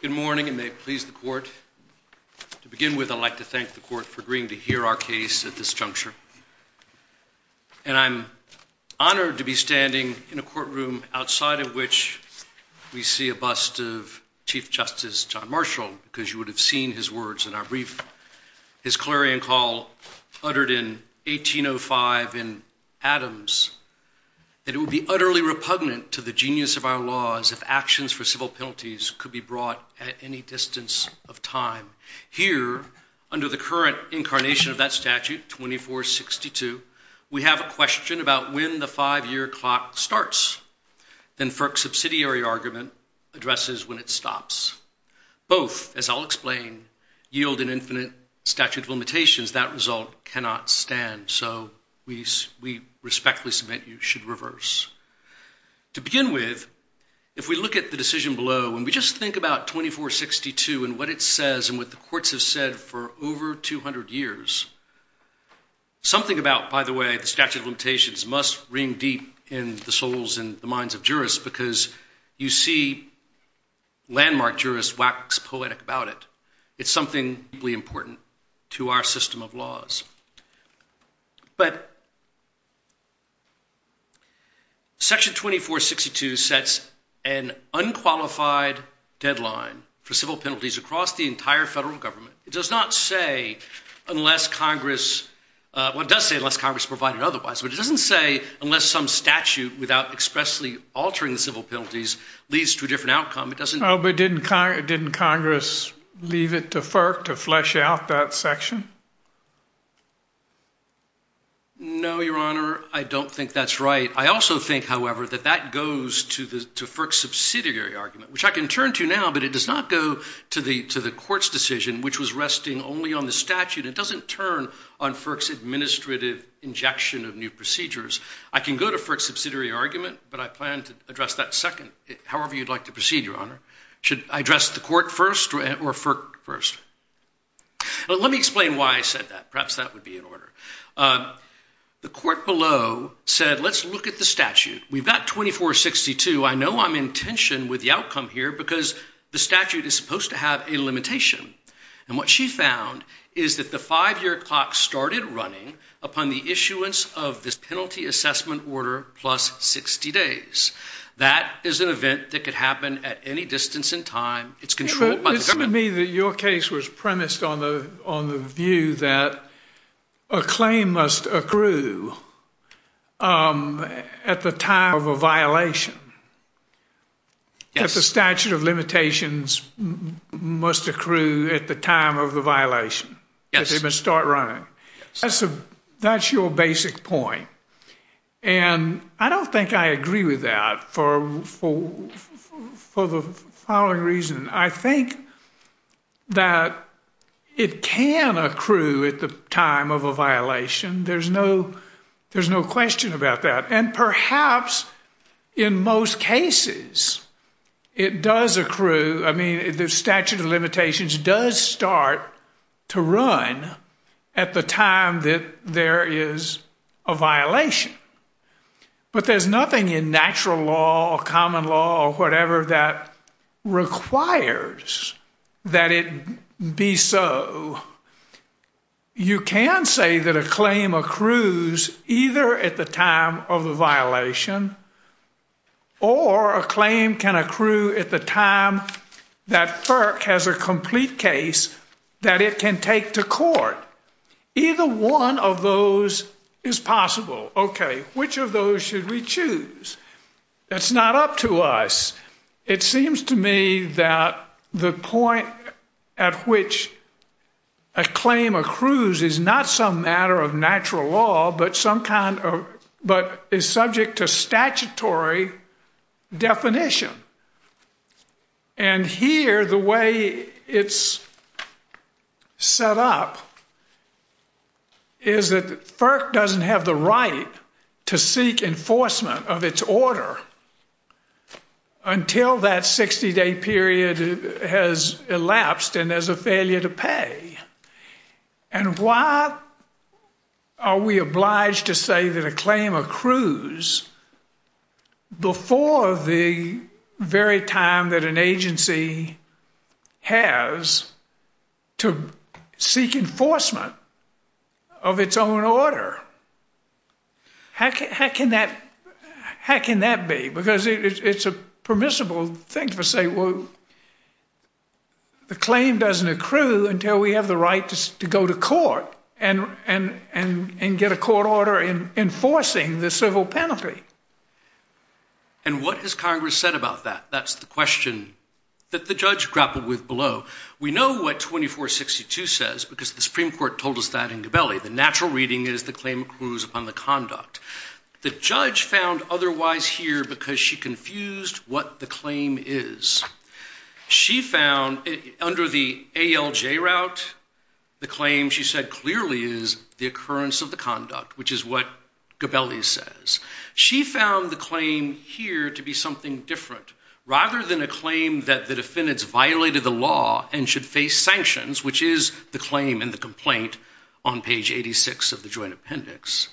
Good morning, and may it please the Court. To begin with, I'd like to thank the Court for agreeing to hear our case at this juncture. And I'm honored to be standing in a courtroom outside of which we see a bust of Chief Justice John Marshall, because you would have seen his words in our brief. His clarion call uttered in 1805 in Adams that it would be utterly repugnant to the genius of our laws if actions for civil penalties could be brought at any distance of time. Here, under the current incarnation of that statute, 2462, we have a question about when the five-year clock starts than FERC's subsidiary argument addresses when it stops. Both, as I'll explain, yield an infinite statute of limitations. That result cannot stand, so we respectfully submit you should reverse. To begin with, if we look at the decision below and we just think about 2462 and what it says and what the courts have said for over 200 years, something about, by the way, the statute of limitations must ring deep in the souls and the minds of jurists because you see landmark jurists wax poetic about it. It's something deeply important to our system of laws. But Section 2462 sets an unqualified deadline for civil penalties across the entire federal government. It does say unless Congress provided otherwise, but it doesn't say unless some statute without expressly altering the civil penalties leads to a different outcome. But didn't Congress leave it to FERC to flesh out that section? No, Your Honor, I don't think that's right. I also think, however, that that goes to FERC's subsidiary argument, which I can turn to now, but it does not go to the court's decision, which was resting only on the statute. It doesn't turn on FERC's administrative injection of new procedures. I can go to FERC's subsidiary argument, but I plan to address that second, however you'd like to proceed, Your Honor. Should I address the court first or FERC first? Let me explain why I said that. Perhaps that would be in order. The court below said, let's look at the statute. We've got 2462. I know I'm in tension with the outcome here because the statute is supposed to have a limitation. And what she found is that the five-year clock started running upon the issuance of this penalty assessment order plus 60 days. That is an event that could happen at any distance in time. It's controlled by the government. It seems to me that your case was premised on the view that a claim must accrue at the time of a violation. Yes. That the statute of limitations must accrue at the time of the violation. Yes. That they must start running. Yes. And I don't think I agree with that for the following reason. I think that it can accrue at the time of a violation. There's no question about that. And perhaps in most cases, it does accrue. I mean, the statute of limitations does start to run at the time that there is a violation. But there's nothing in natural law or common law or whatever that requires that it be so. You can say that a claim accrues either at the time of a violation or a claim can accrue at the time that FERC has a complete case that it can take to court. Either one of those is possible. Okay, which of those should we choose? That's not up to us. It seems to me that the point at which a claim accrues is not some matter of natural law, but is subject to statutory definition. And here, the way it's set up is that FERC doesn't have the right to seek enforcement of its order until that 60-day period has elapsed and there's a failure to pay. And why are we obliged to say that a claim accrues before the very time that an agency has to seek enforcement of its own order? How can that be? Because it's a permissible thing to say, well, the claim doesn't accrue until we have the right to go to court and get a court order enforcing the civil penalty. And what has Congress said about that? That's the question that the judge grappled with below. We know what 2462 says because the Supreme Court told us that in Gabelli. The natural reading is the claim accrues upon the conduct. The judge found otherwise here because she confused what the claim is. She found under the ALJ route, the claim she said clearly is the occurrence of the conduct, which is what Gabelli says. She found the claim here to be something different rather than a claim that the defendants violated the law and should face sanctions, which is the claim in the complaint on page 86 of the joint appendix.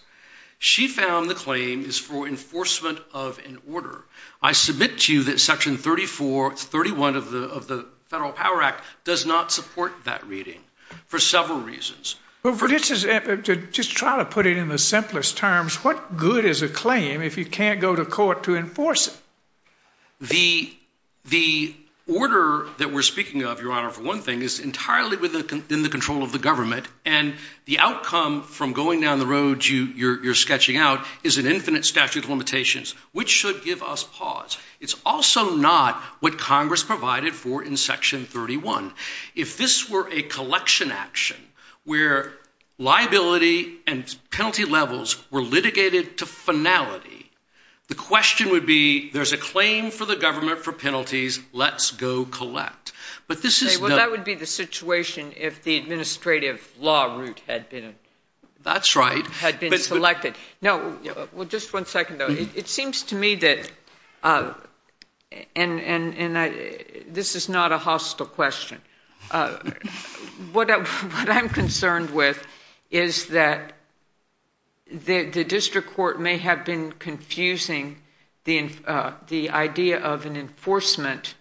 She found the claim is for enforcement of an order. I submit to you that section 34, 31 of the Federal Power Act does not support that reading for several reasons. Just try to put it in the simplest terms. What good is a claim if you can't go to court to enforce it? The order that we're speaking of, Your Honor, for one thing, is entirely within the control of the government. And the outcome from going down the road you're sketching out is an infinite statute of limitations, which should give us pause. It's also not what Congress provided for in section 31. If this were a collection action where liability and penalty levels were litigated to finality, the question would be there's a claim for the government for penalties. Let's go collect. But this is not. Well, that would be the situation if the administrative law route had been. That's right. Had been selected. Just one second, though. It seems to me that this is not a hostile question. What I'm concerned with is that the district court may have been confusing the idea of an enforcement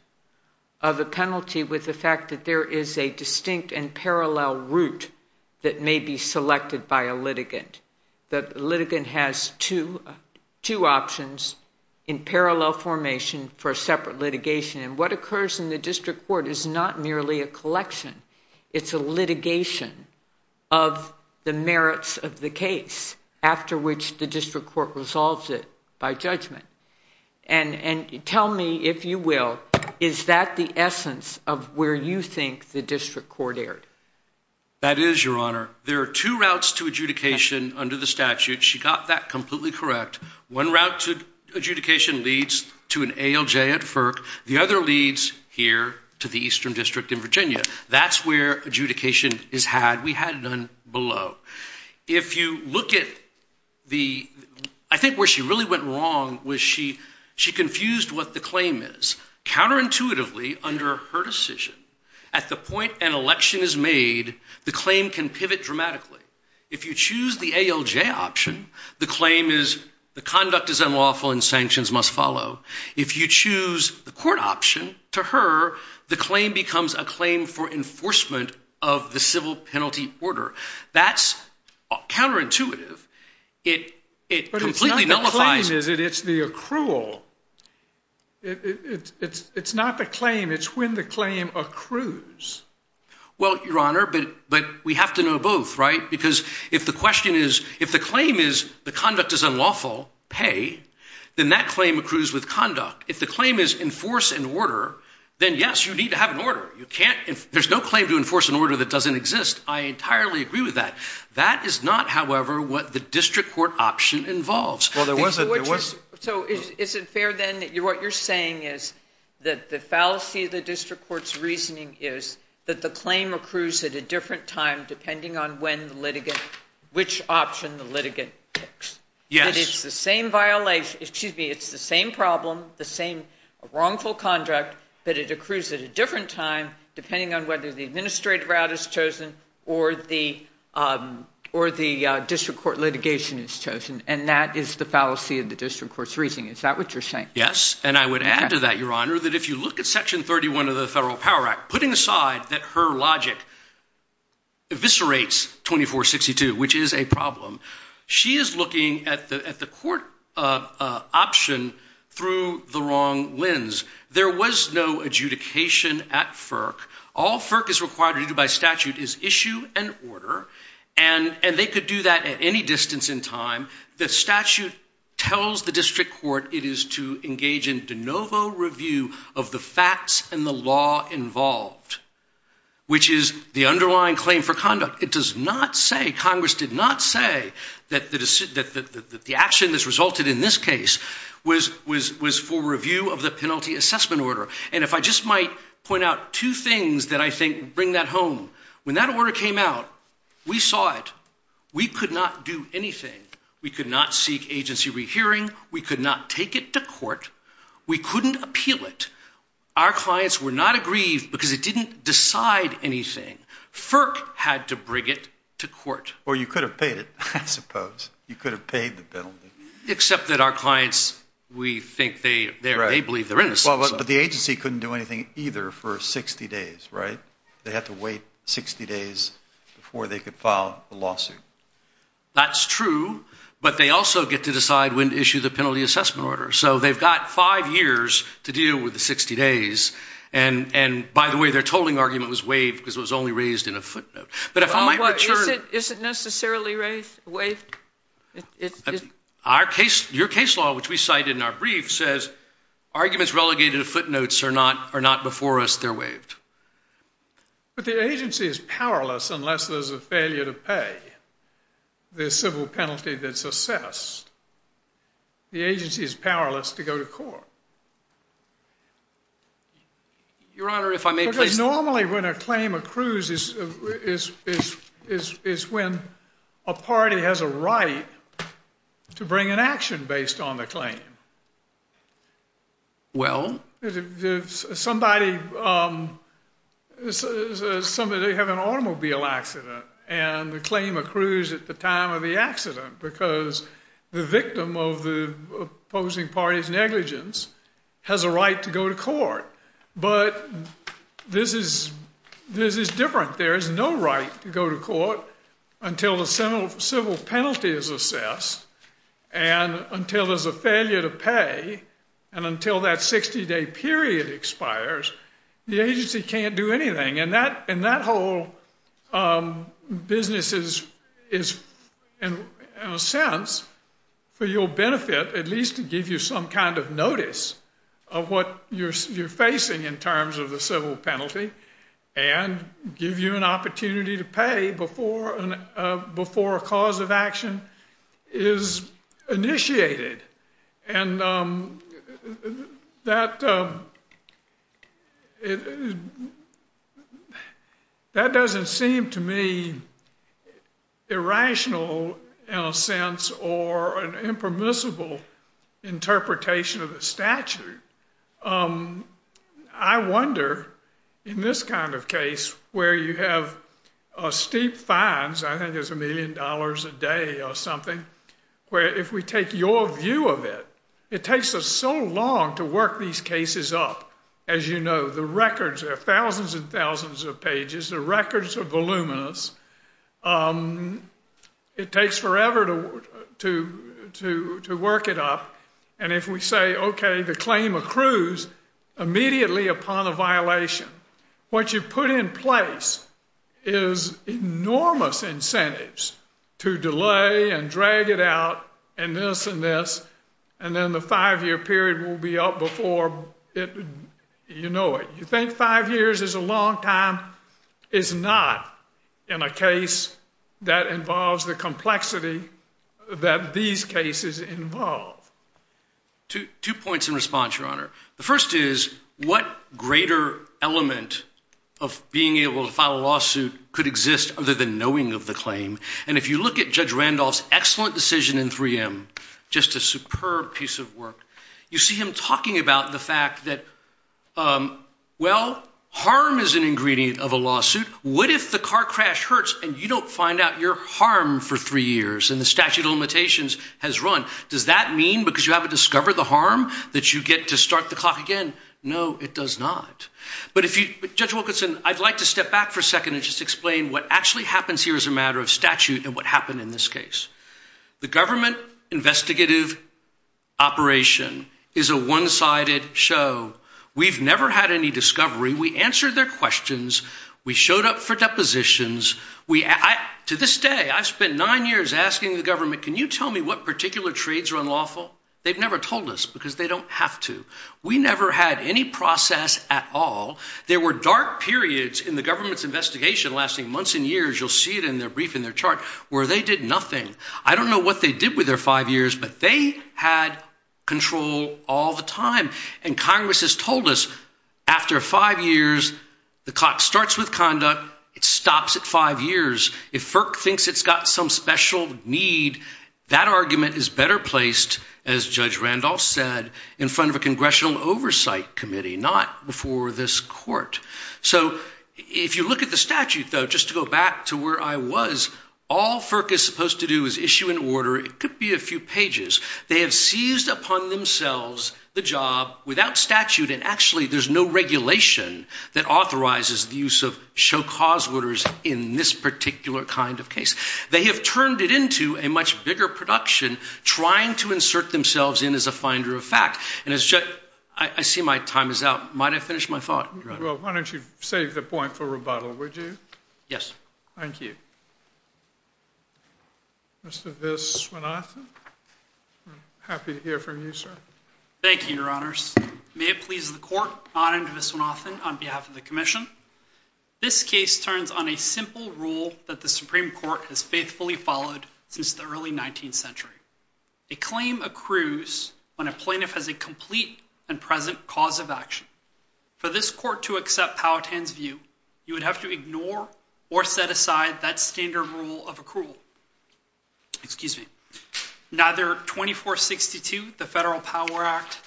of a penalty with the fact that there is a distinct and parallel route that may be selected by a litigant. The litigant has two options in parallel formation for a separate litigation. And what occurs in the district court is not merely a collection. It's a litigation of the merits of the case after which the district court resolves it by judgment. And tell me, if you will, is that the essence of where you think the district court erred? That is, Your Honor. There are two routes to adjudication under the statute. She got that completely correct. One route to adjudication leads to an ALJ at FERC. The other leads here to the Eastern District in Virginia. That's where adjudication is had. We had none below. If you look at the ‑‑ I think where she really went wrong was she confused what the claim is. Counterintuitively, under her decision, at the point an election is made, the claim can pivot dramatically. If you choose the ALJ option, the claim is the conduct is unlawful and sanctions must follow. If you choose the court option, to her, the claim becomes a claim for enforcement of the civil penalty order. That's counterintuitive. But it's not the claim, is it? It's the accrual. It's not the claim. It's when the claim accrues. Well, Your Honor, but we have to know both, right? Because if the question is, if the claim is the conduct is unlawful, pay, then that claim accrues with conduct. If the claim is enforce an order, then, yes, you need to have an order. There's no claim to enforce an order that doesn't exist. I entirely agree with that. That is not, however, what the district court option involves. So is it fair, then, that what you're saying is that the fallacy of the district court's reasoning is that the claim accrues at a different time depending on when the litigant, which option the litigant picks? Yes. Excuse me. It's the same problem, the same wrongful conduct, but it accrues at a different time depending on whether the administrative route is chosen or the district court litigation is chosen. And that is the fallacy of the district court's reasoning. Is that what you're saying? Yes, and I would add to that, Your Honor, that if you look at Section 31 of the Federal Power Act, putting aside that her logic eviscerates 2462, which is a problem, she is looking at the court option through the wrong lens. There was no adjudication at FERC. All FERC is required to do by statute is issue an order, and they could do that at any distance in time. The statute tells the district court it is to engage in de novo review of the facts and the law involved, which is the underlying claim for conduct. It does not say, Congress did not say that the action that's resulted in this case was for review of the penalty assessment order. And if I just might point out two things that I think bring that home. When that order came out, we saw it. We could not do anything. We could not seek agency rehearing. We could not take it to court. We couldn't appeal it. Our clients were not aggrieved because it didn't decide anything. FERC had to bring it to court. Or you could have paid it, I suppose. You could have paid the penalty. Except that our clients, we think they believe they're innocent. But the agency couldn't do anything either for 60 days, right? They had to wait 60 days before they could file a lawsuit. That's true, but they also get to decide when to issue the penalty assessment order. So they've got five years to deal with the 60 days. And, by the way, their tolling argument was waived because it was only raised in a footnote. Is it necessarily waived? Your case law, which we cited in our brief, says arguments relegated to footnotes are not before us. They're waived. But the agency is powerless unless there's a failure to pay the civil penalty that's assessed. The agency is powerless to go to court. Your Honor, if I may, please. Because normally when a claim accrues is when a party has a right to bring an action based on the claim. Well? Somebody has an automobile accident and the claim accrues at the time of the accident because the victim of the opposing party's negligence has a right to go to court. But this is different. There is no right to go to court until the civil penalty is assessed and until there's a failure to pay and until that 60-day period expires, the agency can't do anything. And that whole business is, in a sense, for your benefit, at least to give you some kind of notice of what you're facing in terms of the civil penalty and give you an opportunity to pay before a cause of action is initiated. And that doesn't seem to me irrational in a sense or an impermissible interpretation of the statute. I wonder, in this kind of case where you have steep fines, I think it's a million dollars a day or something, where if we take your view of it, it takes us so long to work these cases up. As you know, the records are thousands and thousands of pages. The records are voluminous. It takes forever to work it up. And if we say, okay, the claim accrues immediately upon a violation, what you put in place is enormous incentives to delay and drag it out and this and this, and then the five-year period will be up before you know it. You think five years is a long time? It's not in a case that involves the complexity that these cases involve. Two points in response, Your Honor. The first is, what greater element of being able to file a lawsuit could exist other than knowing of the claim? And if you look at Judge Randolph's excellent decision in 3M, just a superb piece of work, you see him talking about the fact that, well, harm is an ingredient of a lawsuit. What if the car crash hurts and you don't find out you're harmed for three years and the statute of limitations has run? Does that mean because you haven't discovered the harm that you get to start the clock again? No, it does not. But Judge Wilkinson, I'd like to step back for a second and just explain what actually happens here as a matter of statute and what happened in this case. The government investigative operation is a one-sided show. We've never had any discovery. We answered their questions. We showed up for depositions. To this day, I've spent nine years asking the government, can you tell me what particular trades are unlawful? They've never told us because they don't have to. We never had any process at all. There were dark periods in the government's investigation lasting months and years. You'll see it in their brief, in their chart, where they did nothing. I don't know what they did with their five years, but they had control all the time. And Congress has told us after five years, the clock starts with conduct. It stops at five years. If FERC thinks it's got some special need, that argument is better placed, as Judge Randolph said, in front of a congressional oversight committee, not before this court. So if you look at the statute, though, just to go back to where I was, all FERC is supposed to do is issue an order. It could be a few pages. They have seized upon themselves the job without statute, and actually there's no regulation that authorizes the use of show-cause orders in this particular kind of case. They have turned it into a much bigger production, trying to insert themselves in as a finder of fact. And as Judge, I see my time is out. Might I finish my thought? Well, why don't you save the point for rebuttal, would you? Yes. Thank you. Mr. Viswanathan? I'm happy to hear from you, sir. Thank you, Your Honors. May it please the Court, I'm Anand Viswanathan on behalf of the Commission. This case turns on a simple rule that the Supreme Court has faithfully followed since the early 19th century. A claim accrues when a plaintiff has a complete and present cause of action. For this Court to accept Powhatan's view, you would have to ignore or set aside that standard rule of accrual. Excuse me. Neither 2462, the Federal Power Act,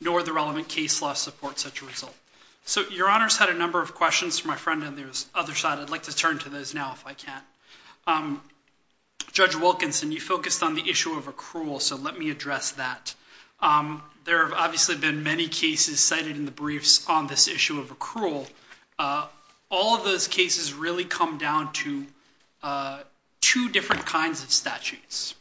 nor the relevant case law supports such a result. So Your Honors had a number of questions for my friend on the other side. I'd like to turn to those now if I can. Judge Wilkinson, you focused on the issue of accrual, so let me address that. There have obviously been many cases cited in the briefs on this issue of accrual. All of those cases really come down to two different kinds of statutes.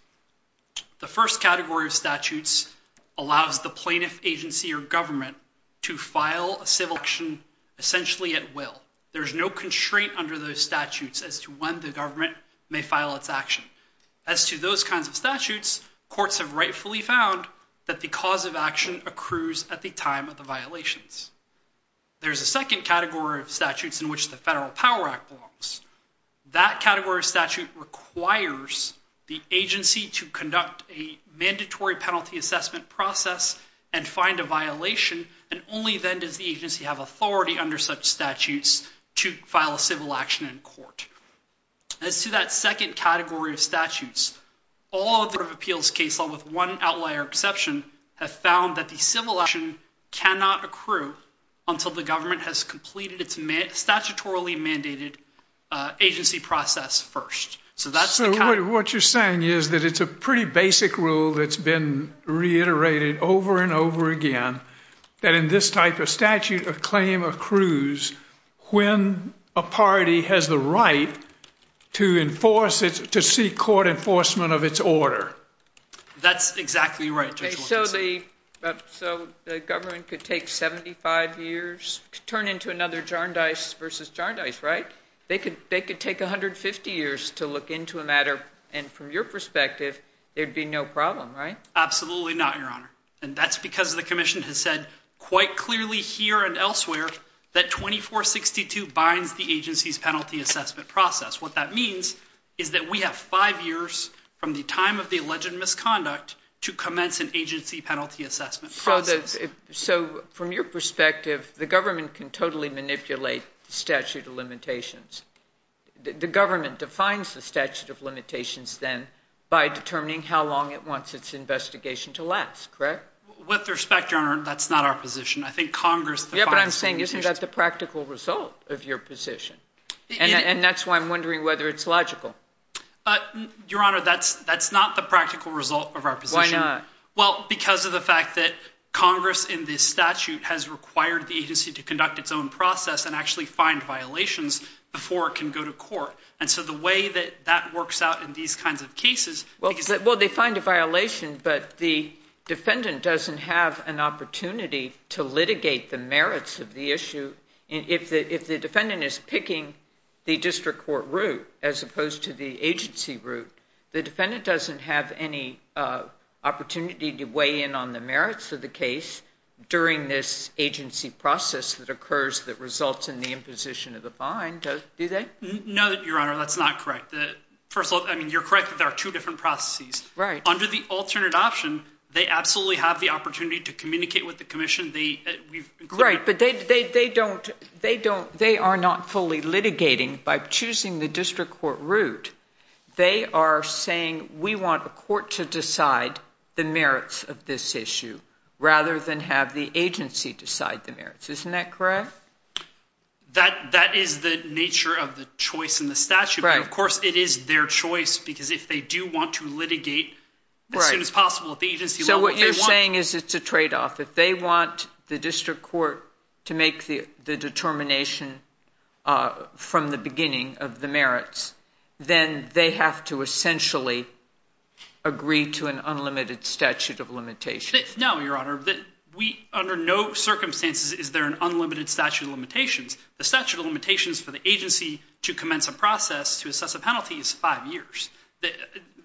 The first category of statutes allows the plaintiff, agency, or government to file a civil action essentially at will. There's no constraint under those statutes as to when the government may file its action. As to those kinds of statutes, courts have rightfully found that the cause of action accrues at the time of the violations. There's a second category of statutes in which the Federal Power Act belongs. That category of statute requires the agency to conduct a mandatory penalty assessment process and find a violation, and only then does the agency have authority under such statutes to file a civil action in court. As to that second category of statutes, all of the court of appeals cases, with one outlier exception, have found that the civil action cannot accrue until the government has completed its statutorily mandated agency process first. So what you're saying is that it's a pretty basic rule that's been reiterated over and over again, that in this type of statute, a claim accrues when a party has the right to seek court enforcement of its order. That's exactly right, Judge Wilkinson. So the government could take 75 years, turn into another Jarndyce versus Jarndyce, right? They could take 150 years to look into a matter, and from your perspective, there'd be no problem, right? Absolutely not, Your Honor. And that's because the commission has said quite clearly here and elsewhere that 2462 binds the agency's penalty assessment process. What that means is that we have five years from the time of the alleged misconduct to commence an agency penalty assessment process. So from your perspective, the government can totally manipulate statute of limitations. The government defines the statute of limitations then by determining how long it wants its investigation to last, correct? With respect, Your Honor, that's not our position. I think Congress defines the limitations. Yeah, but I'm saying isn't that the practical result of your position? And that's why I'm wondering whether it's logical. Your Honor, that's not the practical result of our position. Why not? Well, because of the fact that Congress in this statute has required the agency to conduct its own process and actually find violations before it can go to court. And so the way that that works out in these kinds of cases— Well, they find a violation, but the defendant doesn't have an opportunity to litigate the merits of the issue. And if the defendant is picking the district court route as opposed to the agency route, the defendant doesn't have any opportunity to weigh in on the merits of the case during this agency process that occurs that results in the imposition of the fine, do they? No, Your Honor, that's not correct. First of all, I mean, you're correct that there are two different processes. Under the alternate option, they absolutely have the opportunity to communicate with the commission. Right, but they don't—they are not fully litigating by choosing the district court route. They are saying we want a court to decide the merits of this issue rather than have the agency decide the merits. Isn't that correct? That is the nature of the choice in the statute. But, of course, it is their choice because if they do want to litigate as soon as possible, if the agency— So what you're saying is it's a tradeoff. If they want the district court to make the determination from the beginning of the merits, then they have to essentially agree to an unlimited statute of limitations. No, Your Honor. Under no circumstances is there an unlimited statute of limitations. The statute of limitations for the agency to commence a process to assess a penalty is five years.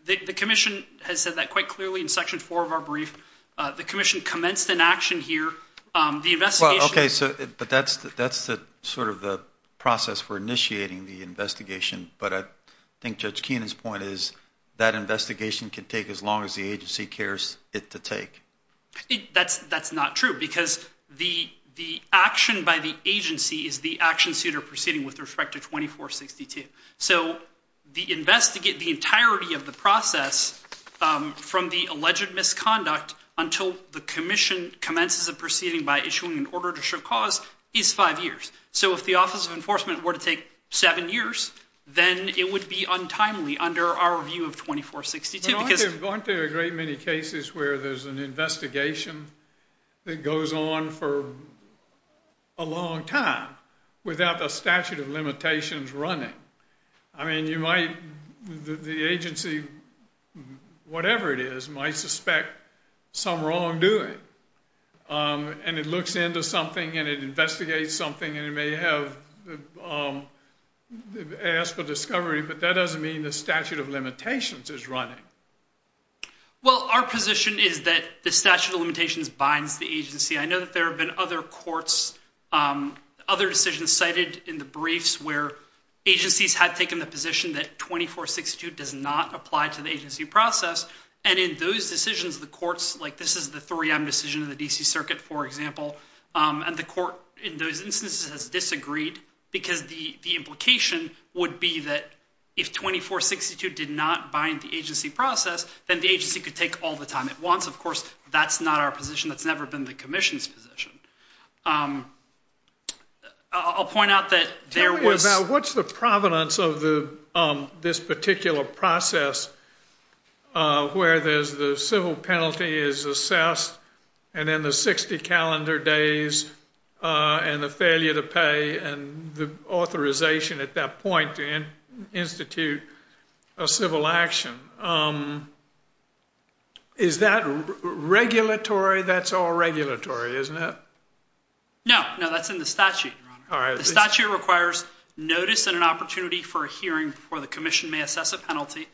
The commission has said that quite clearly in Section 4 of our brief. The commission commenced an action here. The investigation— Well, okay, but that's sort of the process for initiating the investigation. But I think Judge Keenan's point is that investigation can take as long as the agency cares it to take. That's not true because the action by the agency is the action suit or proceeding with respect to 2462. So the entirety of the process from the alleged misconduct until the commission commences a proceeding by issuing an order to show cause is five years. So if the Office of Enforcement were to take seven years, then it would be untimely under our view of 2462 because— It goes on for a long time without the statute of limitations running. I mean, you might—the agency, whatever it is, might suspect some wrongdoing. And it looks into something and it investigates something and it may have asked for discovery, but that doesn't mean the statute of limitations is running. Well, our position is that the statute of limitations binds the agency. I know that there have been other courts, other decisions cited in the briefs where agencies had taken the position that 2462 does not apply to the agency process. And in those decisions, the courts—like this is the 3M decision of the D.C. Circuit, for example. And the court in those instances has disagreed because the implication would be that if 2462 did not bind the agency process, then the agency could take all the time it wants. Of course, that's not our position. That's never been the commission's position. I'll point out that there was— this particular process where there's the civil penalty is assessed and then the 60 calendar days and the failure to pay and the authorization at that point to institute a civil action. Is that regulatory? That's all regulatory, isn't it? No. No, that's in the statute, Your Honor. The statute requires notice and an opportunity for a hearing before the commission may assess a penalty.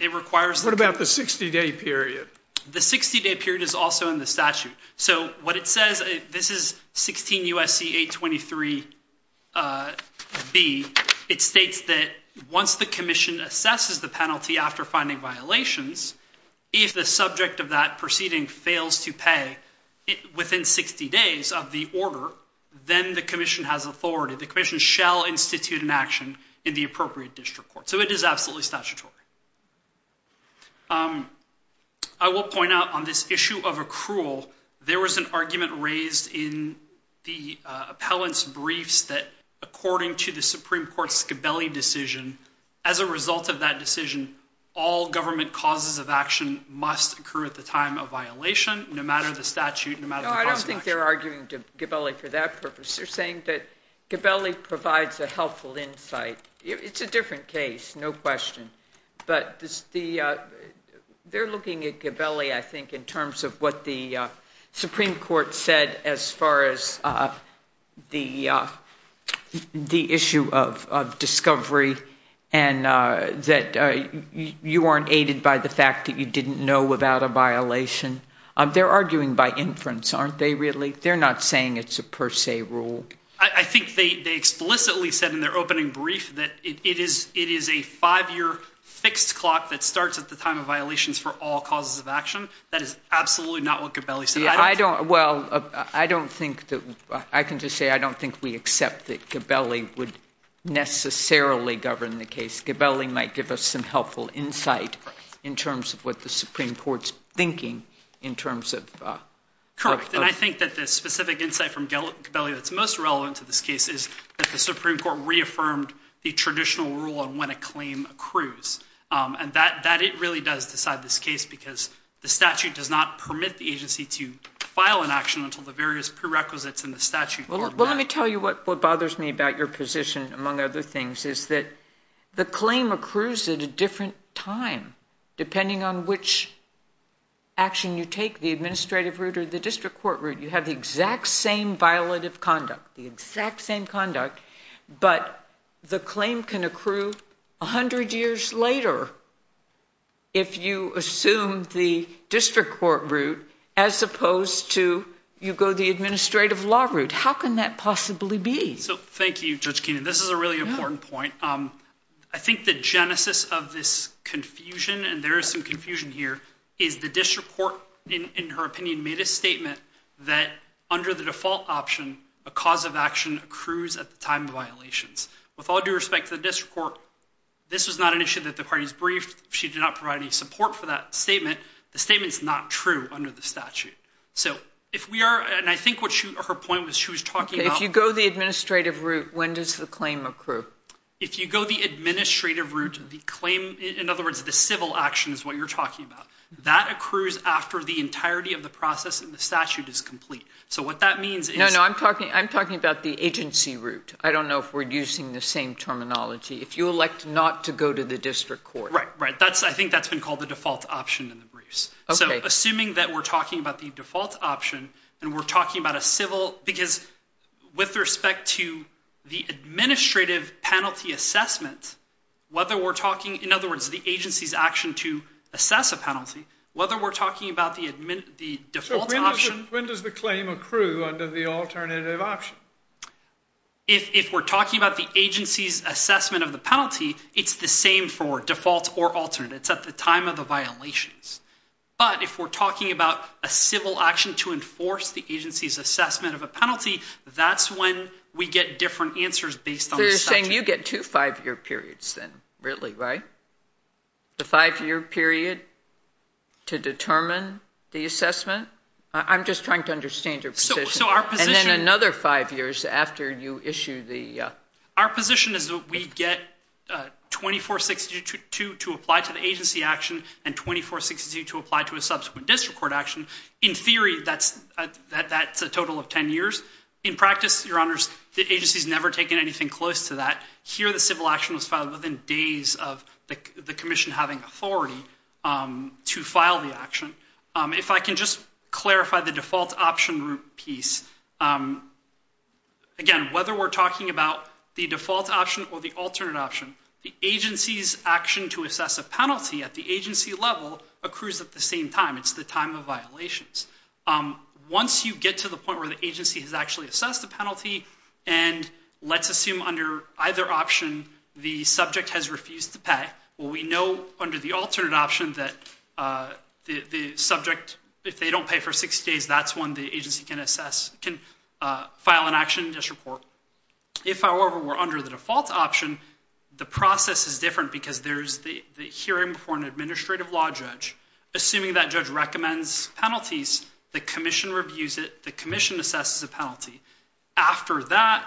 It requires— What about the 60-day period? The 60-day period is also in the statute. So what it says—this is 16 U.S.C. 823B. It states that once the commission assesses the penalty after finding violations, if the subject of that proceeding fails to pay within 60 days of the order, then the commission has authority. The commission shall institute an action in the appropriate district court. So it is absolutely statutory. I will point out on this issue of accrual, there was an argument raised in the appellant's briefs that according to the Supreme Court's Gabelli decision, as a result of that decision, all government causes of action must occur at the time of violation, no matter the statute, no matter the cause of action. No, I don't think they're arguing to Gabelli for that purpose. They're saying that Gabelli provides a helpful insight. It's a different case, no question. But they're looking at Gabelli, I think, in terms of what the Supreme Court said as far as the issue of discovery and that you aren't aided by the fact that you didn't know about a violation. They're arguing by inference, aren't they, really? They're not saying it's a per se rule. I think they explicitly said in their opening brief that it is a five-year fixed clock that starts at the time of violations for all causes of action. That is absolutely not what Gabelli said. I don't – well, I don't think that – I can just say I don't think we accept that Gabelli would necessarily govern the case. Gabelli might give us some helpful insight in terms of what the Supreme Court's thinking in terms of – Correct. And I think that the specific insight from Gabelli that's most relevant to this case is that the Supreme Court reaffirmed the traditional rule on when a claim accrues. And that – it really does decide this case because the statute does not permit the agency to file an action until the various prerequisites in the statute are met. Well, let me tell you what bothers me about your position, among other things, is that the claim accrues at a different time depending on which action you take, the administrative route or the district court route. You have the exact same violative conduct, the exact same conduct, but the claim can accrue 100 years later if you assume the district court route as opposed to you go the administrative law route. How can that possibly be? So, thank you, Judge Keenan. This is a really important point. I think the genesis of this confusion, and there is some confusion here, is the district court, in her opinion, made a statement that under the default option, a cause of action accrues at the time of violations. With all due respect to the district court, this was not an issue that the parties briefed. She did not provide any support for that statement. The statement is not true under the statute. So, if we are, and I think what her point was, she was talking about. If you go the administrative route, when does the claim accrue? If you go the administrative route, the claim, in other words, the civil action is what you're talking about. That accrues after the entirety of the process in the statute is complete. So, what that means is. No, no, I'm talking about the agency route. I don't know if we're using the same terminology. If you elect not to go to the district court. Right, right. I think that's been called the default option in the briefs. So, assuming that we're talking about the default option and we're talking about a civil. Because with respect to the administrative penalty assessment. Whether we're talking, in other words, the agency's action to assess a penalty. Whether we're talking about the default option. So, when does the claim accrue under the alternative option? If we're talking about the agency's assessment of the penalty. It's the same for default or alternate. It's at the time of the violations. But if we're talking about a civil action to enforce the agency's assessment of a penalty. That's when we get different answers based on the statute. So, you're saying you get two five-year periods then. Really, right? The five-year period to determine the assessment. I'm just trying to understand your position. So, our position. And then another five years after you issue the. Our position is that we get 2462 to apply to the agency action. And 2462 to apply to a subsequent district court action. In theory, that's a total of ten years. In practice, your honors, the agency's never taken anything close to that. Here, the civil action was filed within days of the commission having authority to file the action. If I can just clarify the default option piece. Again, whether we're talking about the default option or the alternate option. The agency's action to assess a penalty at the agency level accrues at the same time. It's the time of violations. Once you get to the point where the agency has actually assessed the penalty. And let's assume under either option the subject has refused to pay. Well, we know under the alternate option that the subject, if they don't pay for 60 days, that's when the agency can file an action district court. If, however, we're under the default option, the process is different. Because there's the hearing before an administrative law judge. Assuming that judge recommends penalties, the commission reviews it. The commission assesses the penalty. After that,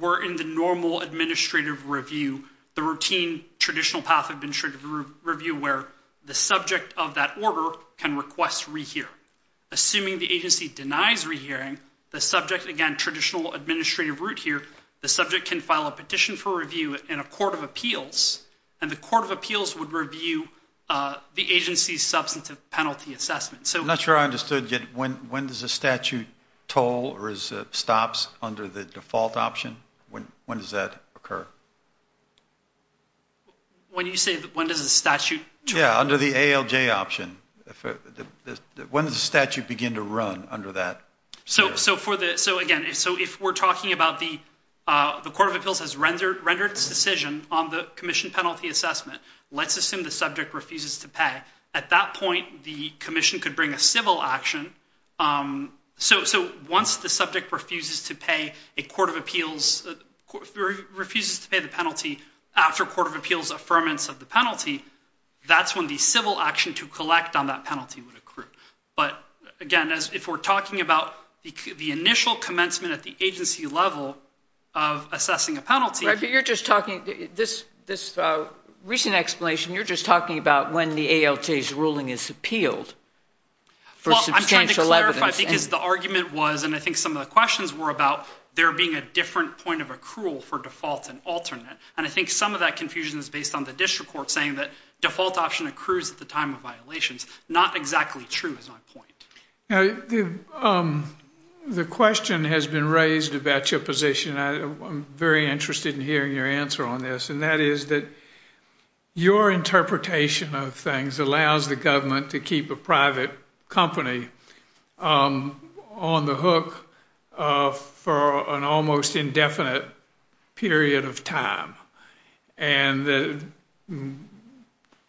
we're in the normal administrative review. The routine traditional path of administrative review where the subject of that order can request rehearing. Assuming the agency denies rehearing, the subject, again, traditional administrative route here, the subject can file a petition for review in a court of appeals. And the court of appeals would review the agency's substantive penalty assessment. I'm not sure I understood. When does the statute toll or stops under the default option? When does that occur? When you say when does the statute toll? Yeah, under the ALJ option. When does the statute begin to run under that? So, again, if we're talking about the court of appeals has rendered its decision on the commission penalty assessment, let's assume the subject refuses to pay. At that point, the commission could bring a civil action. So once the subject refuses to pay a court of appeals, refuses to pay the penalty after court of appeals affirmance of the penalty, that's when the civil action to collect on that penalty would occur. But, again, if we're talking about the initial commencement at the agency level of assessing a penalty. This recent explanation, you're just talking about when the ALJ's ruling is appealed for substantial evidence. I'm trying to clarify because the argument was, and I think some of the questions were, about there being a different point of accrual for default and alternate. And I think some of that confusion is based on the district court saying that default option accrues at the time of violations. Not exactly true is my point. The question has been raised about your position. I'm very interested in hearing your answer on this. And that is that your interpretation of things allows the government to keep a private company on the hook for an almost indefinite period of time. And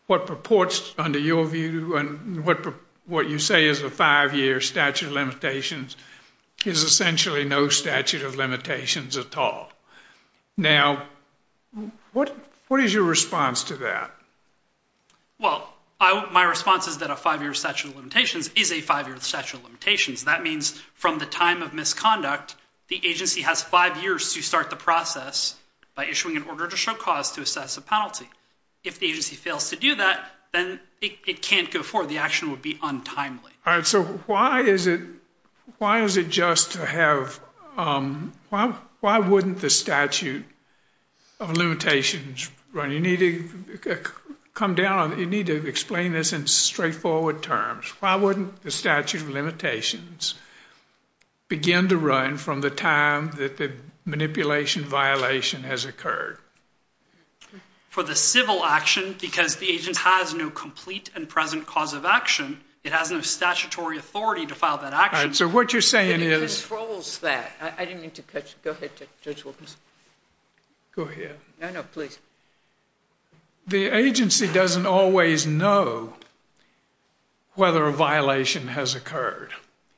what purports under your view and what you say is a five-year statute of limitations is essentially no statute of limitations at all. Now, what is your response to that? Well, my response is that a five-year statute of limitations is a five-year statute of limitations. That means from the time of misconduct, the agency has five years to start the process by issuing an order to show cause to assess a penalty. If the agency fails to do that, then it can't go forward. The action would be untimely. All right. So why is it just to have – why wouldn't the statute of limitations run? You need to come down on – you need to explain this in straightforward terms. Why wouldn't the statute of limitations begin to run from the time that the manipulation violation has occurred? For the civil action, because the agent has no complete and present cause of action, it has no statutory authority to file that action. All right. So what you're saying is – It controls that. I didn't mean to cut you. Go ahead, Judge Wilkins. Go ahead. No, no, please. The agency doesn't always know whether a violation has occurred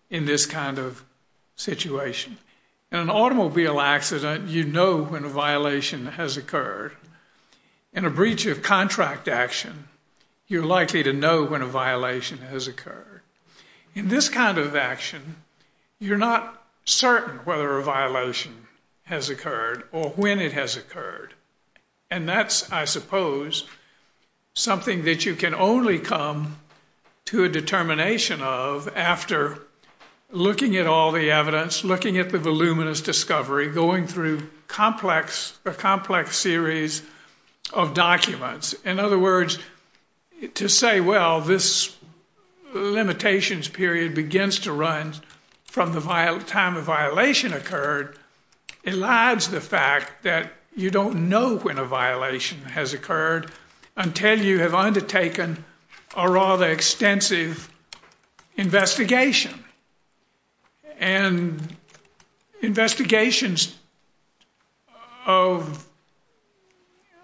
in this kind of situation. In an automobile accident, you know when a violation has occurred. In a breach of contract action, you're likely to know when a violation has occurred. In this kind of action, you're not certain whether a violation has occurred or when it has occurred, and that's, I suppose, something that you can only come to a determination of after looking at all the evidence, looking at the voluminous discovery, going through a complex series of documents. In other words, to say, well, this limitations period begins to run from the time a violation occurred elides the fact that you don't know when a violation has occurred until you have undertaken a rather extensive investigation. And investigations of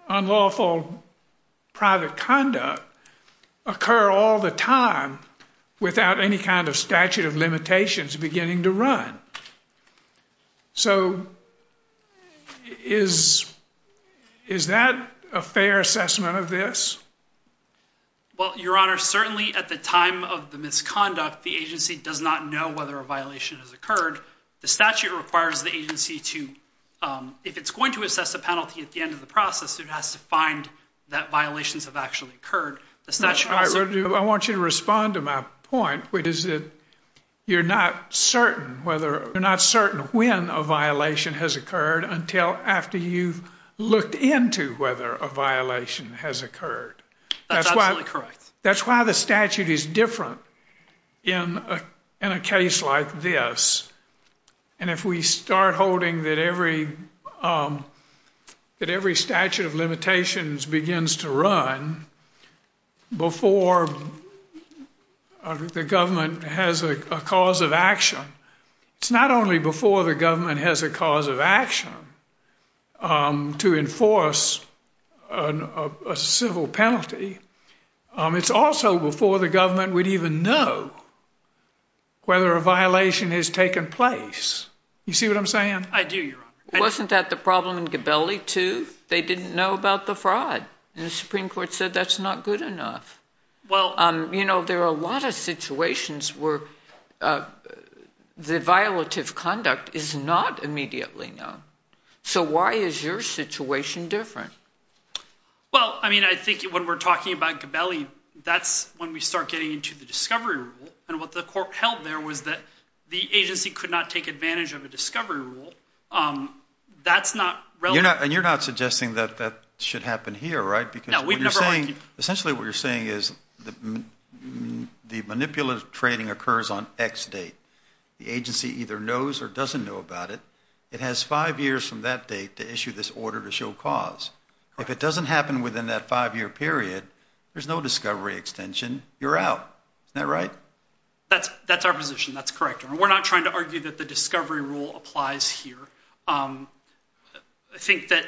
unlawful private conduct occur all the time without any kind of statute of limitations beginning to run. So is that a fair assessment of this? Well, Your Honor, certainly at the time of the misconduct, the agency does not know whether a violation has occurred. The statute requires the agency to, if it's going to assess a penalty at the end of the process, it has to find that violations have actually occurred. I want you to respond to my point, which is that you're not certain when a violation has occurred until after you've looked into whether a violation has occurred. That's absolutely correct. That's why the statute is different in a case like this. And if we start holding that every statute of limitations begins to run before the government has a cause of action, it's not only before the government has a cause of action to enforce a civil penalty, it's also before the government would even know whether a violation has taken place. You see what I'm saying? I do, Your Honor. Wasn't that the problem in Gabelli, too? They didn't know about the fraud. And the Supreme Court said that's not good enough. You know, there are a lot of situations where the violative conduct is not immediately known. So why is your situation different? Well, I mean, I think when we're talking about Gabelli, that's when we start getting into the discovery rule. And what the court held there was that the agency could not take advantage of a discovery rule. That's not relevant. And you're not suggesting that that should happen here, right? No, we've never argued. Essentially what you're saying is the manipulative trading occurs on X date. The agency either knows or doesn't know about it. It has five years from that date to issue this order to show cause. If it doesn't happen within that five-year period, there's no discovery extension, you're out. Isn't that right? That's our position. That's correct, Your Honor. We're not trying to argue that the discovery rule applies here. I think that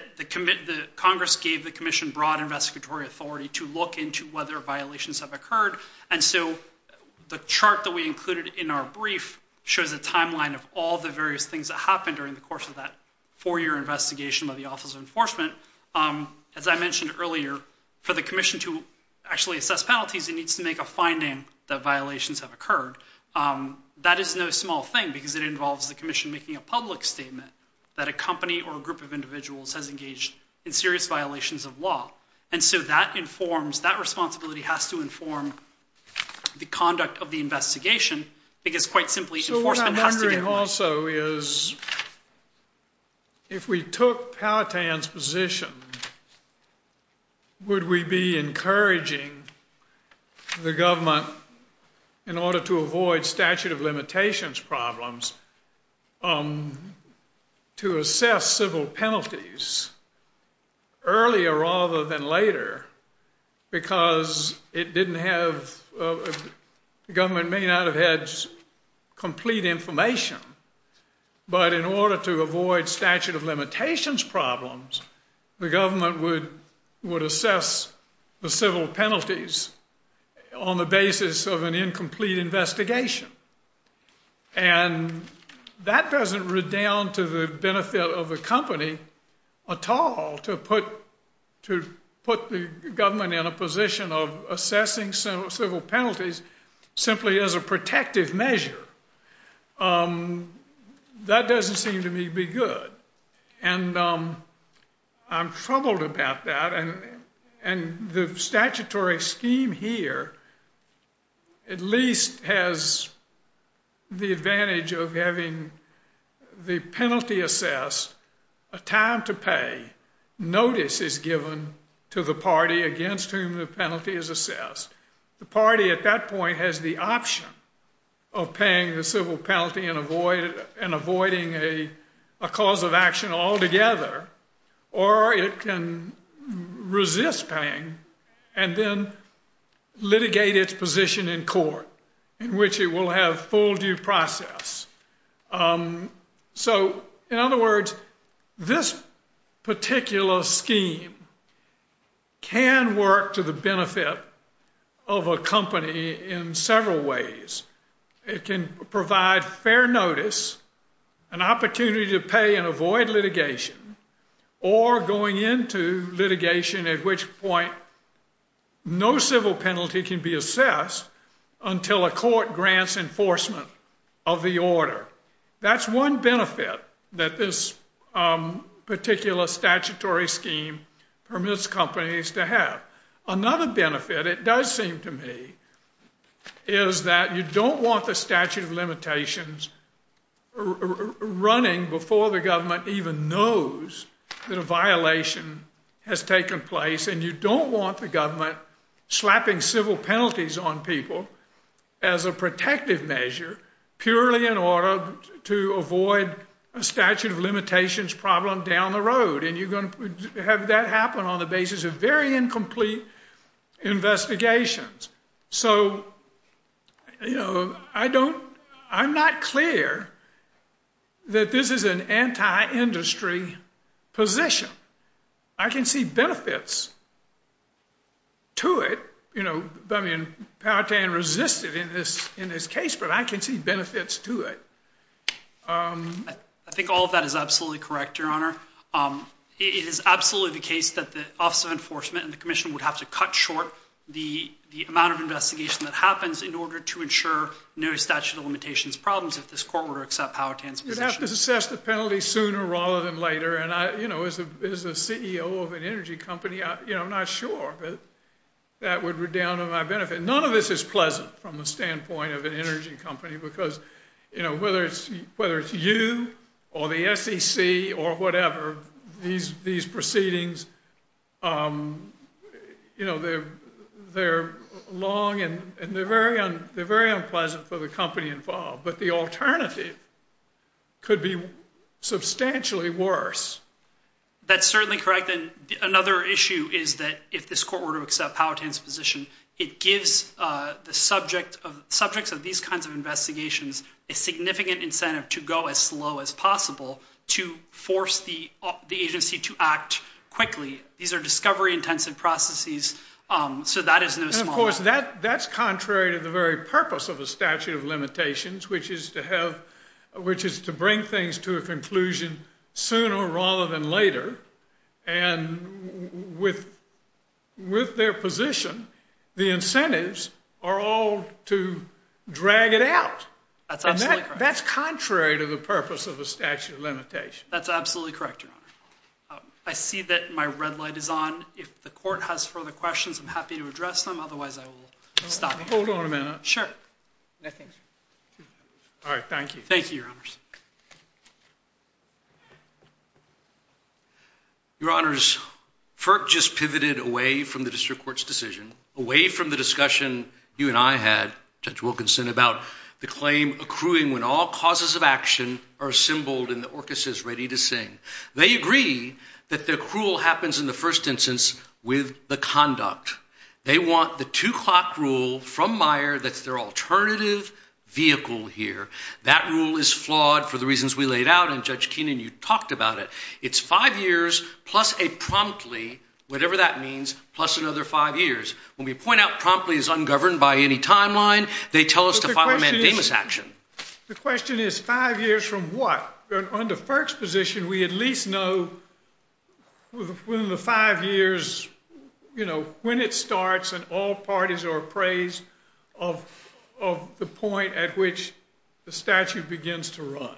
Congress gave the commission broad investigatory authority to look into whether violations have occurred. And so the chart that we included in our brief shows a timeline of all the various things that happened during the course of that four-year investigation by the Office of Enforcement. As I mentioned earlier, for the commission to actually assess penalties, it needs to make a finding that violations have occurred. That is no small thing because it involves the commission making a public statement that a company or a group of individuals has engaged in serious violations of law. And so that informs, that responsibility has to inform the conduct of the investigation because, quite simply, enforcement has to get one. The other thing also is if we took Powhatan's position, would we be encouraging the government, in order to avoid statute of limitations problems, to assess civil penalties earlier rather than later? Because it didn't have, the government may not have had complete information, but in order to avoid statute of limitations problems, the government would assess the civil penalties on the basis of an incomplete investigation. And that doesn't redound to the benefit of the company at all to put the government in a position of assessing civil penalties simply as a protective measure. That doesn't seem to me to be good, and I'm troubled about that. And the statutory scheme here at least has the advantage of having the penalty assessed, a time to pay notice is given to the party against whom the penalty is assessed. The party at that point has the option of paying the civil penalty and avoiding a cause of action altogether, or it can resist paying and then litigate its position in court in which it will have full due process. So, in other words, this particular scheme can work to the benefit of a company in several ways. It can provide fair notice, an opportunity to pay and avoid litigation, or going into litigation at which point no civil penalty can be assessed until a court grants enforcement of the order. That's one benefit that this particular statutory scheme permits companies to have. Another benefit, it does seem to me, is that you don't want the statute of limitations running before the government even knows that a violation has taken place, and you don't want the government slapping civil penalties on people as a protective measure purely in order to avoid a statute of limitations problem down the road. And you're going to have that happen on the basis of very incomplete investigations. So, you know, I'm not clear that this is an anti-industry position. I can see benefits to it. You know, I mean, Powhatan resisted in this case, but I can see benefits to it. I think all of that is absolutely correct, Your Honor. It is absolutely the case that the Office of Enforcement and the Commission would have to cut short the amount of investigation that happens in order to ensure no statute of limitations problems if this court were to accept Powhatan's position. You'd have to assess the penalty sooner rather than later. And, you know, as a CEO of an energy company, I'm not sure that that would redound to my benefit. None of this is pleasant from the standpoint of an energy company because, you know, whether it's you or the SEC or whatever, these proceedings, you know, they're long and they're very unpleasant for the company involved. But the alternative could be substantially worse. That's certainly correct. Another issue is that if this court were to accept Powhatan's position, it gives the subjects of these kinds of investigations a significant incentive to go as slow as possible to force the agency to act quickly. These are discovery-intensive processes, so that is no small matter. Of course, that's contrary to the very purpose of a statute of limitations, which is to bring things to a conclusion sooner rather than later. And with their position, the incentives are all to drag it out. That's absolutely correct. That's contrary to the purpose of a statute of limitations. That's absolutely correct, Your Honor. I see that my red light is on. If the court has further questions, I'm happy to address them. Otherwise, I will stop. Hold on a minute. Sure. All right. Thank you. Thank you, Your Honors. Your Honors, FERC just pivoted away from the district court's decision, away from the discussion you and I had, Judge Wilkinson, about the claim accruing when all causes of action are assembled and the orcas is ready to sing. They agree that the accrual happens in the first instance with the conduct. They want the two-clock rule from Meyer that's their alternative vehicle here. That rule is flawed for the reasons we laid out, and Judge Keenan, you talked about it. It's five years plus a promptly, whatever that means, plus another five years. When we point out promptly is ungoverned by any timeline, they tell us to file a mandamus action. The question is five years from what? Under FERC's position, we at least know within the five years, you know, when it starts and all parties are appraised of the point at which the statute begins to run.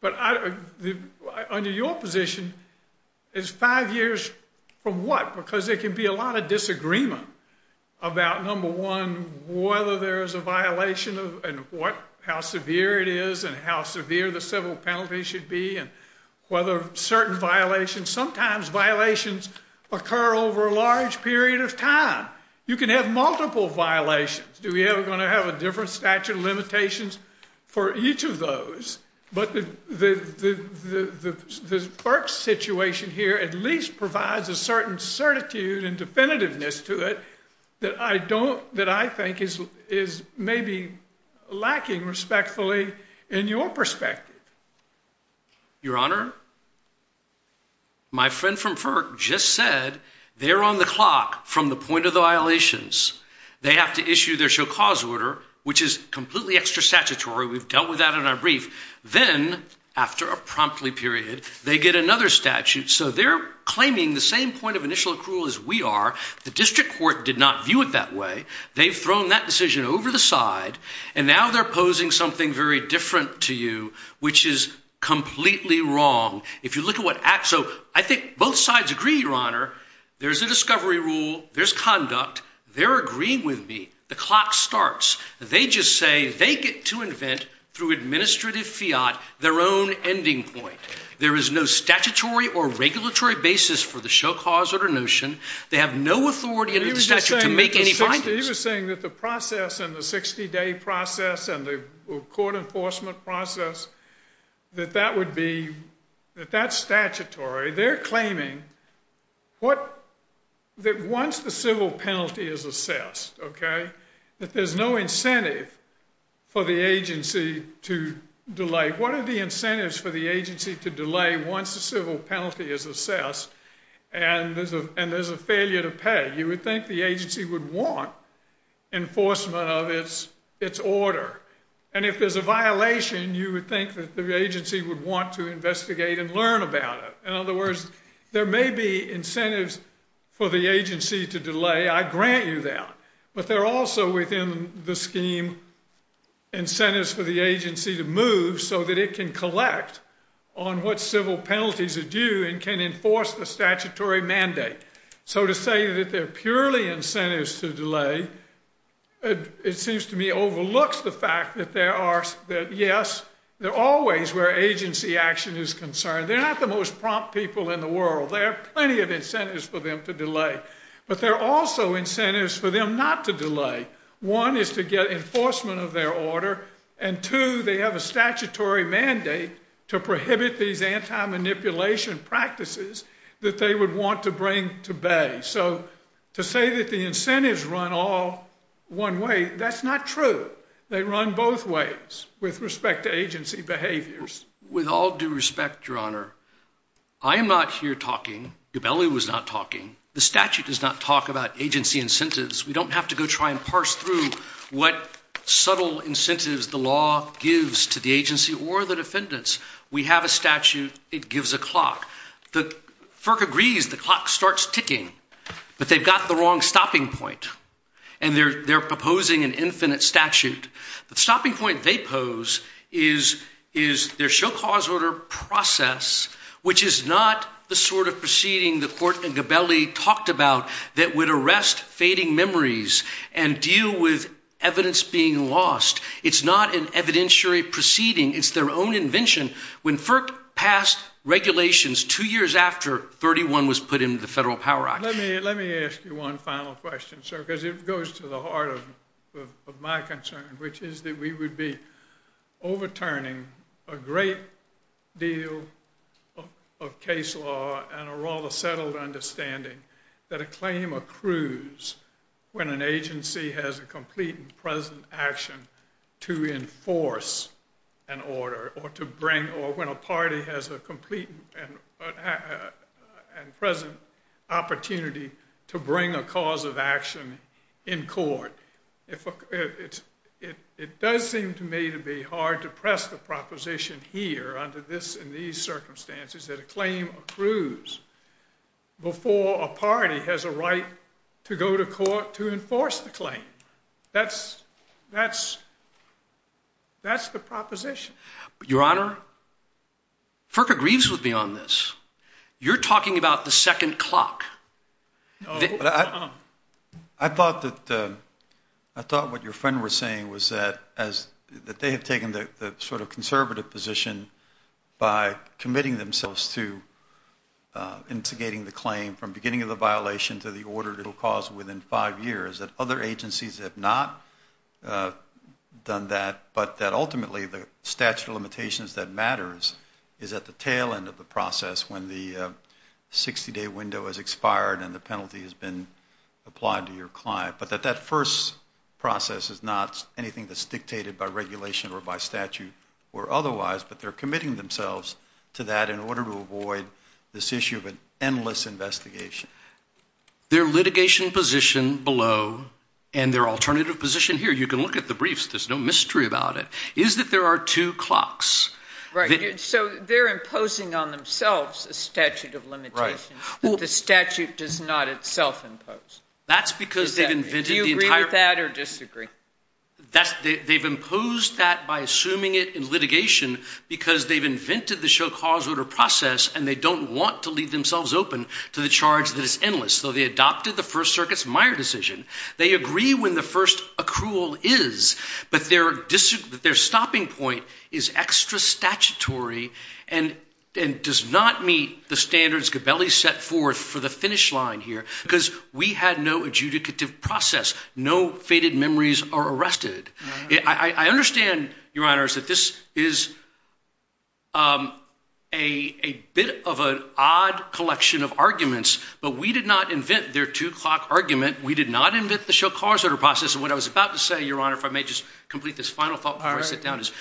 But under your position, it's five years from what? Because there can be a lot of disagreement about, number one, whether there's a violation and how severe it is and how severe the civil penalty should be and whether certain violations. Sometimes violations occur over a large period of time. You can have multiple violations. Do we ever going to have a different statute of limitations for each of those? But the FERC situation here at least provides a certain certitude and definitiveness to it that I don't, that I think is maybe lacking respectfully in your perspective. Your Honor, my friend from FERC just said they're on the clock from the point of the violations. They have to issue their show cause order, which is completely extra statutory. We've dealt with that in our brief. Then after a promptly period, they get another statute. So they're claiming the same point of initial accrual as we are. The district court did not view it that way. They've thrown that decision over the side, and now they're posing something very different to you, which is completely wrong. If you look at what acts, so I think both sides agree, Your Honor. There's a discovery rule. There's conduct. They're agreeing with me. The clock starts. They just say they get to invent through administrative fiat their own ending point. There is no statutory or regulatory basis for the show cause order notion. They have no authority under the statute to make any findings. He was saying that the process and the 60-day process and the court enforcement process, that that would be, that that's statutory. They're claiming that once the civil penalty is assessed, okay, that there's no incentive for the agency to delay. Once the civil penalty is assessed and there's a failure to pay, you would think the agency would want enforcement of its order. And if there's a violation, you would think that the agency would want to investigate and learn about it. In other words, there may be incentives for the agency to delay. I grant you that. But there are also within the scheme incentives for the agency to move so that it can collect on what civil penalties are due and can enforce the statutory mandate. So to say that they're purely incentives to delay, it seems to me overlooks the fact that there are, that yes, they're always where agency action is concerned. They're not the most prompt people in the world. There are plenty of incentives for them to delay. But there are also incentives for them not to delay. One is to get enforcement of their order. And two, they have a statutory mandate to prohibit these anti-manipulation practices that they would want to bring to bay. So to say that the incentives run all one way, that's not true. They run both ways with respect to agency behaviors. With all due respect, Your Honor, I am not here talking. Gabelli was not talking. The statute does not talk about agency incentives. We don't have to go try and parse through what subtle incentives the law gives to the agency or the defendants. We have a statute. It gives a clock. FERC agrees the clock starts ticking. But they've got the wrong stopping point. And they're proposing an infinite statute. The stopping point they pose is their show cause order process, which is not the sort of proceeding the court in Gabelli talked about that would arrest fading memories and deal with evidence being lost. It's not an evidentiary proceeding. It's their own invention. When FERC passed regulations two years after 31 was put into the Federal Power Act. Let me ask you one final question, sir, because it goes to the heart of my concern, which is that we would be overturning a great deal of case law and a rather settled understanding that a claim accrues when an agency has a complete and present action to enforce an order or when a party has a complete and present opportunity to bring a cause of action in court. It does seem to me to be hard to press the proposition here under these circumstances that a claim accrues before a party has a right to go to court to enforce the claim. That's that's that's the proposition. Your Honor, FERC agrees with me on this. You're talking about the second clock. I thought that I thought what your friend was saying was that as they have taken the sort of conservative position by committing themselves to done that, but that ultimately the statute of limitations that matters is at the tail end of the process. When the 60 day window has expired and the penalty has been applied to your client, but that that first process is not anything that's dictated by regulation or by statute or otherwise, but they're committing themselves to that in order to avoid this issue of an endless investigation. Their litigation position below and their alternative position here, you can look at the briefs. There's no mystery about it is that there are two clocks. So they're imposing on themselves a statute of limitations. Well, the statute does not itself impose. That's because they've invented that or disagree. They've imposed that by assuming it in litigation because they've invented the show cause order process and they don't want to leave themselves open to the charge that is endless. So they adopted the first circuit's Meyer decision. They agree when the first accrual is, but their district, their stopping point is extra statutory and and does not meet the standards. Gabelli set forth for the finish line here because we had no adjudicative process. No fated memories are arrested. I understand, Your Honor, is that this is. A bit of an odd collection of arguments, but we did not invent their two clock argument. We did not invent the show cause or process. And what I was about to say, Your Honor, if I may just complete this final thought, I sit down is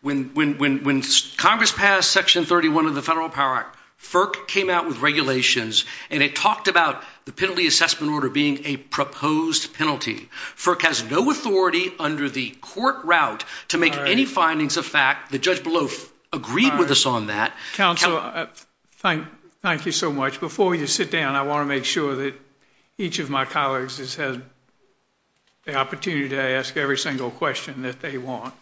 when when when Congress passed Section 31 of the Federal Power Act, FERC came out with regulations and it talked about the penalty assessment order being a proposed penalty. FERC has no authority under the court route to make any findings of fact. The judge below agreed with us on that. Counsel, thank thank you so much. Before you sit down, I want to make sure that each of my colleagues has had. The opportunity to ask every single question that they want.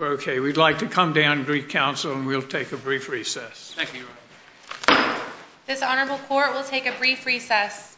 OK, we'd like to come down to council and we'll take a brief recess. This honorable court will take a brief recess.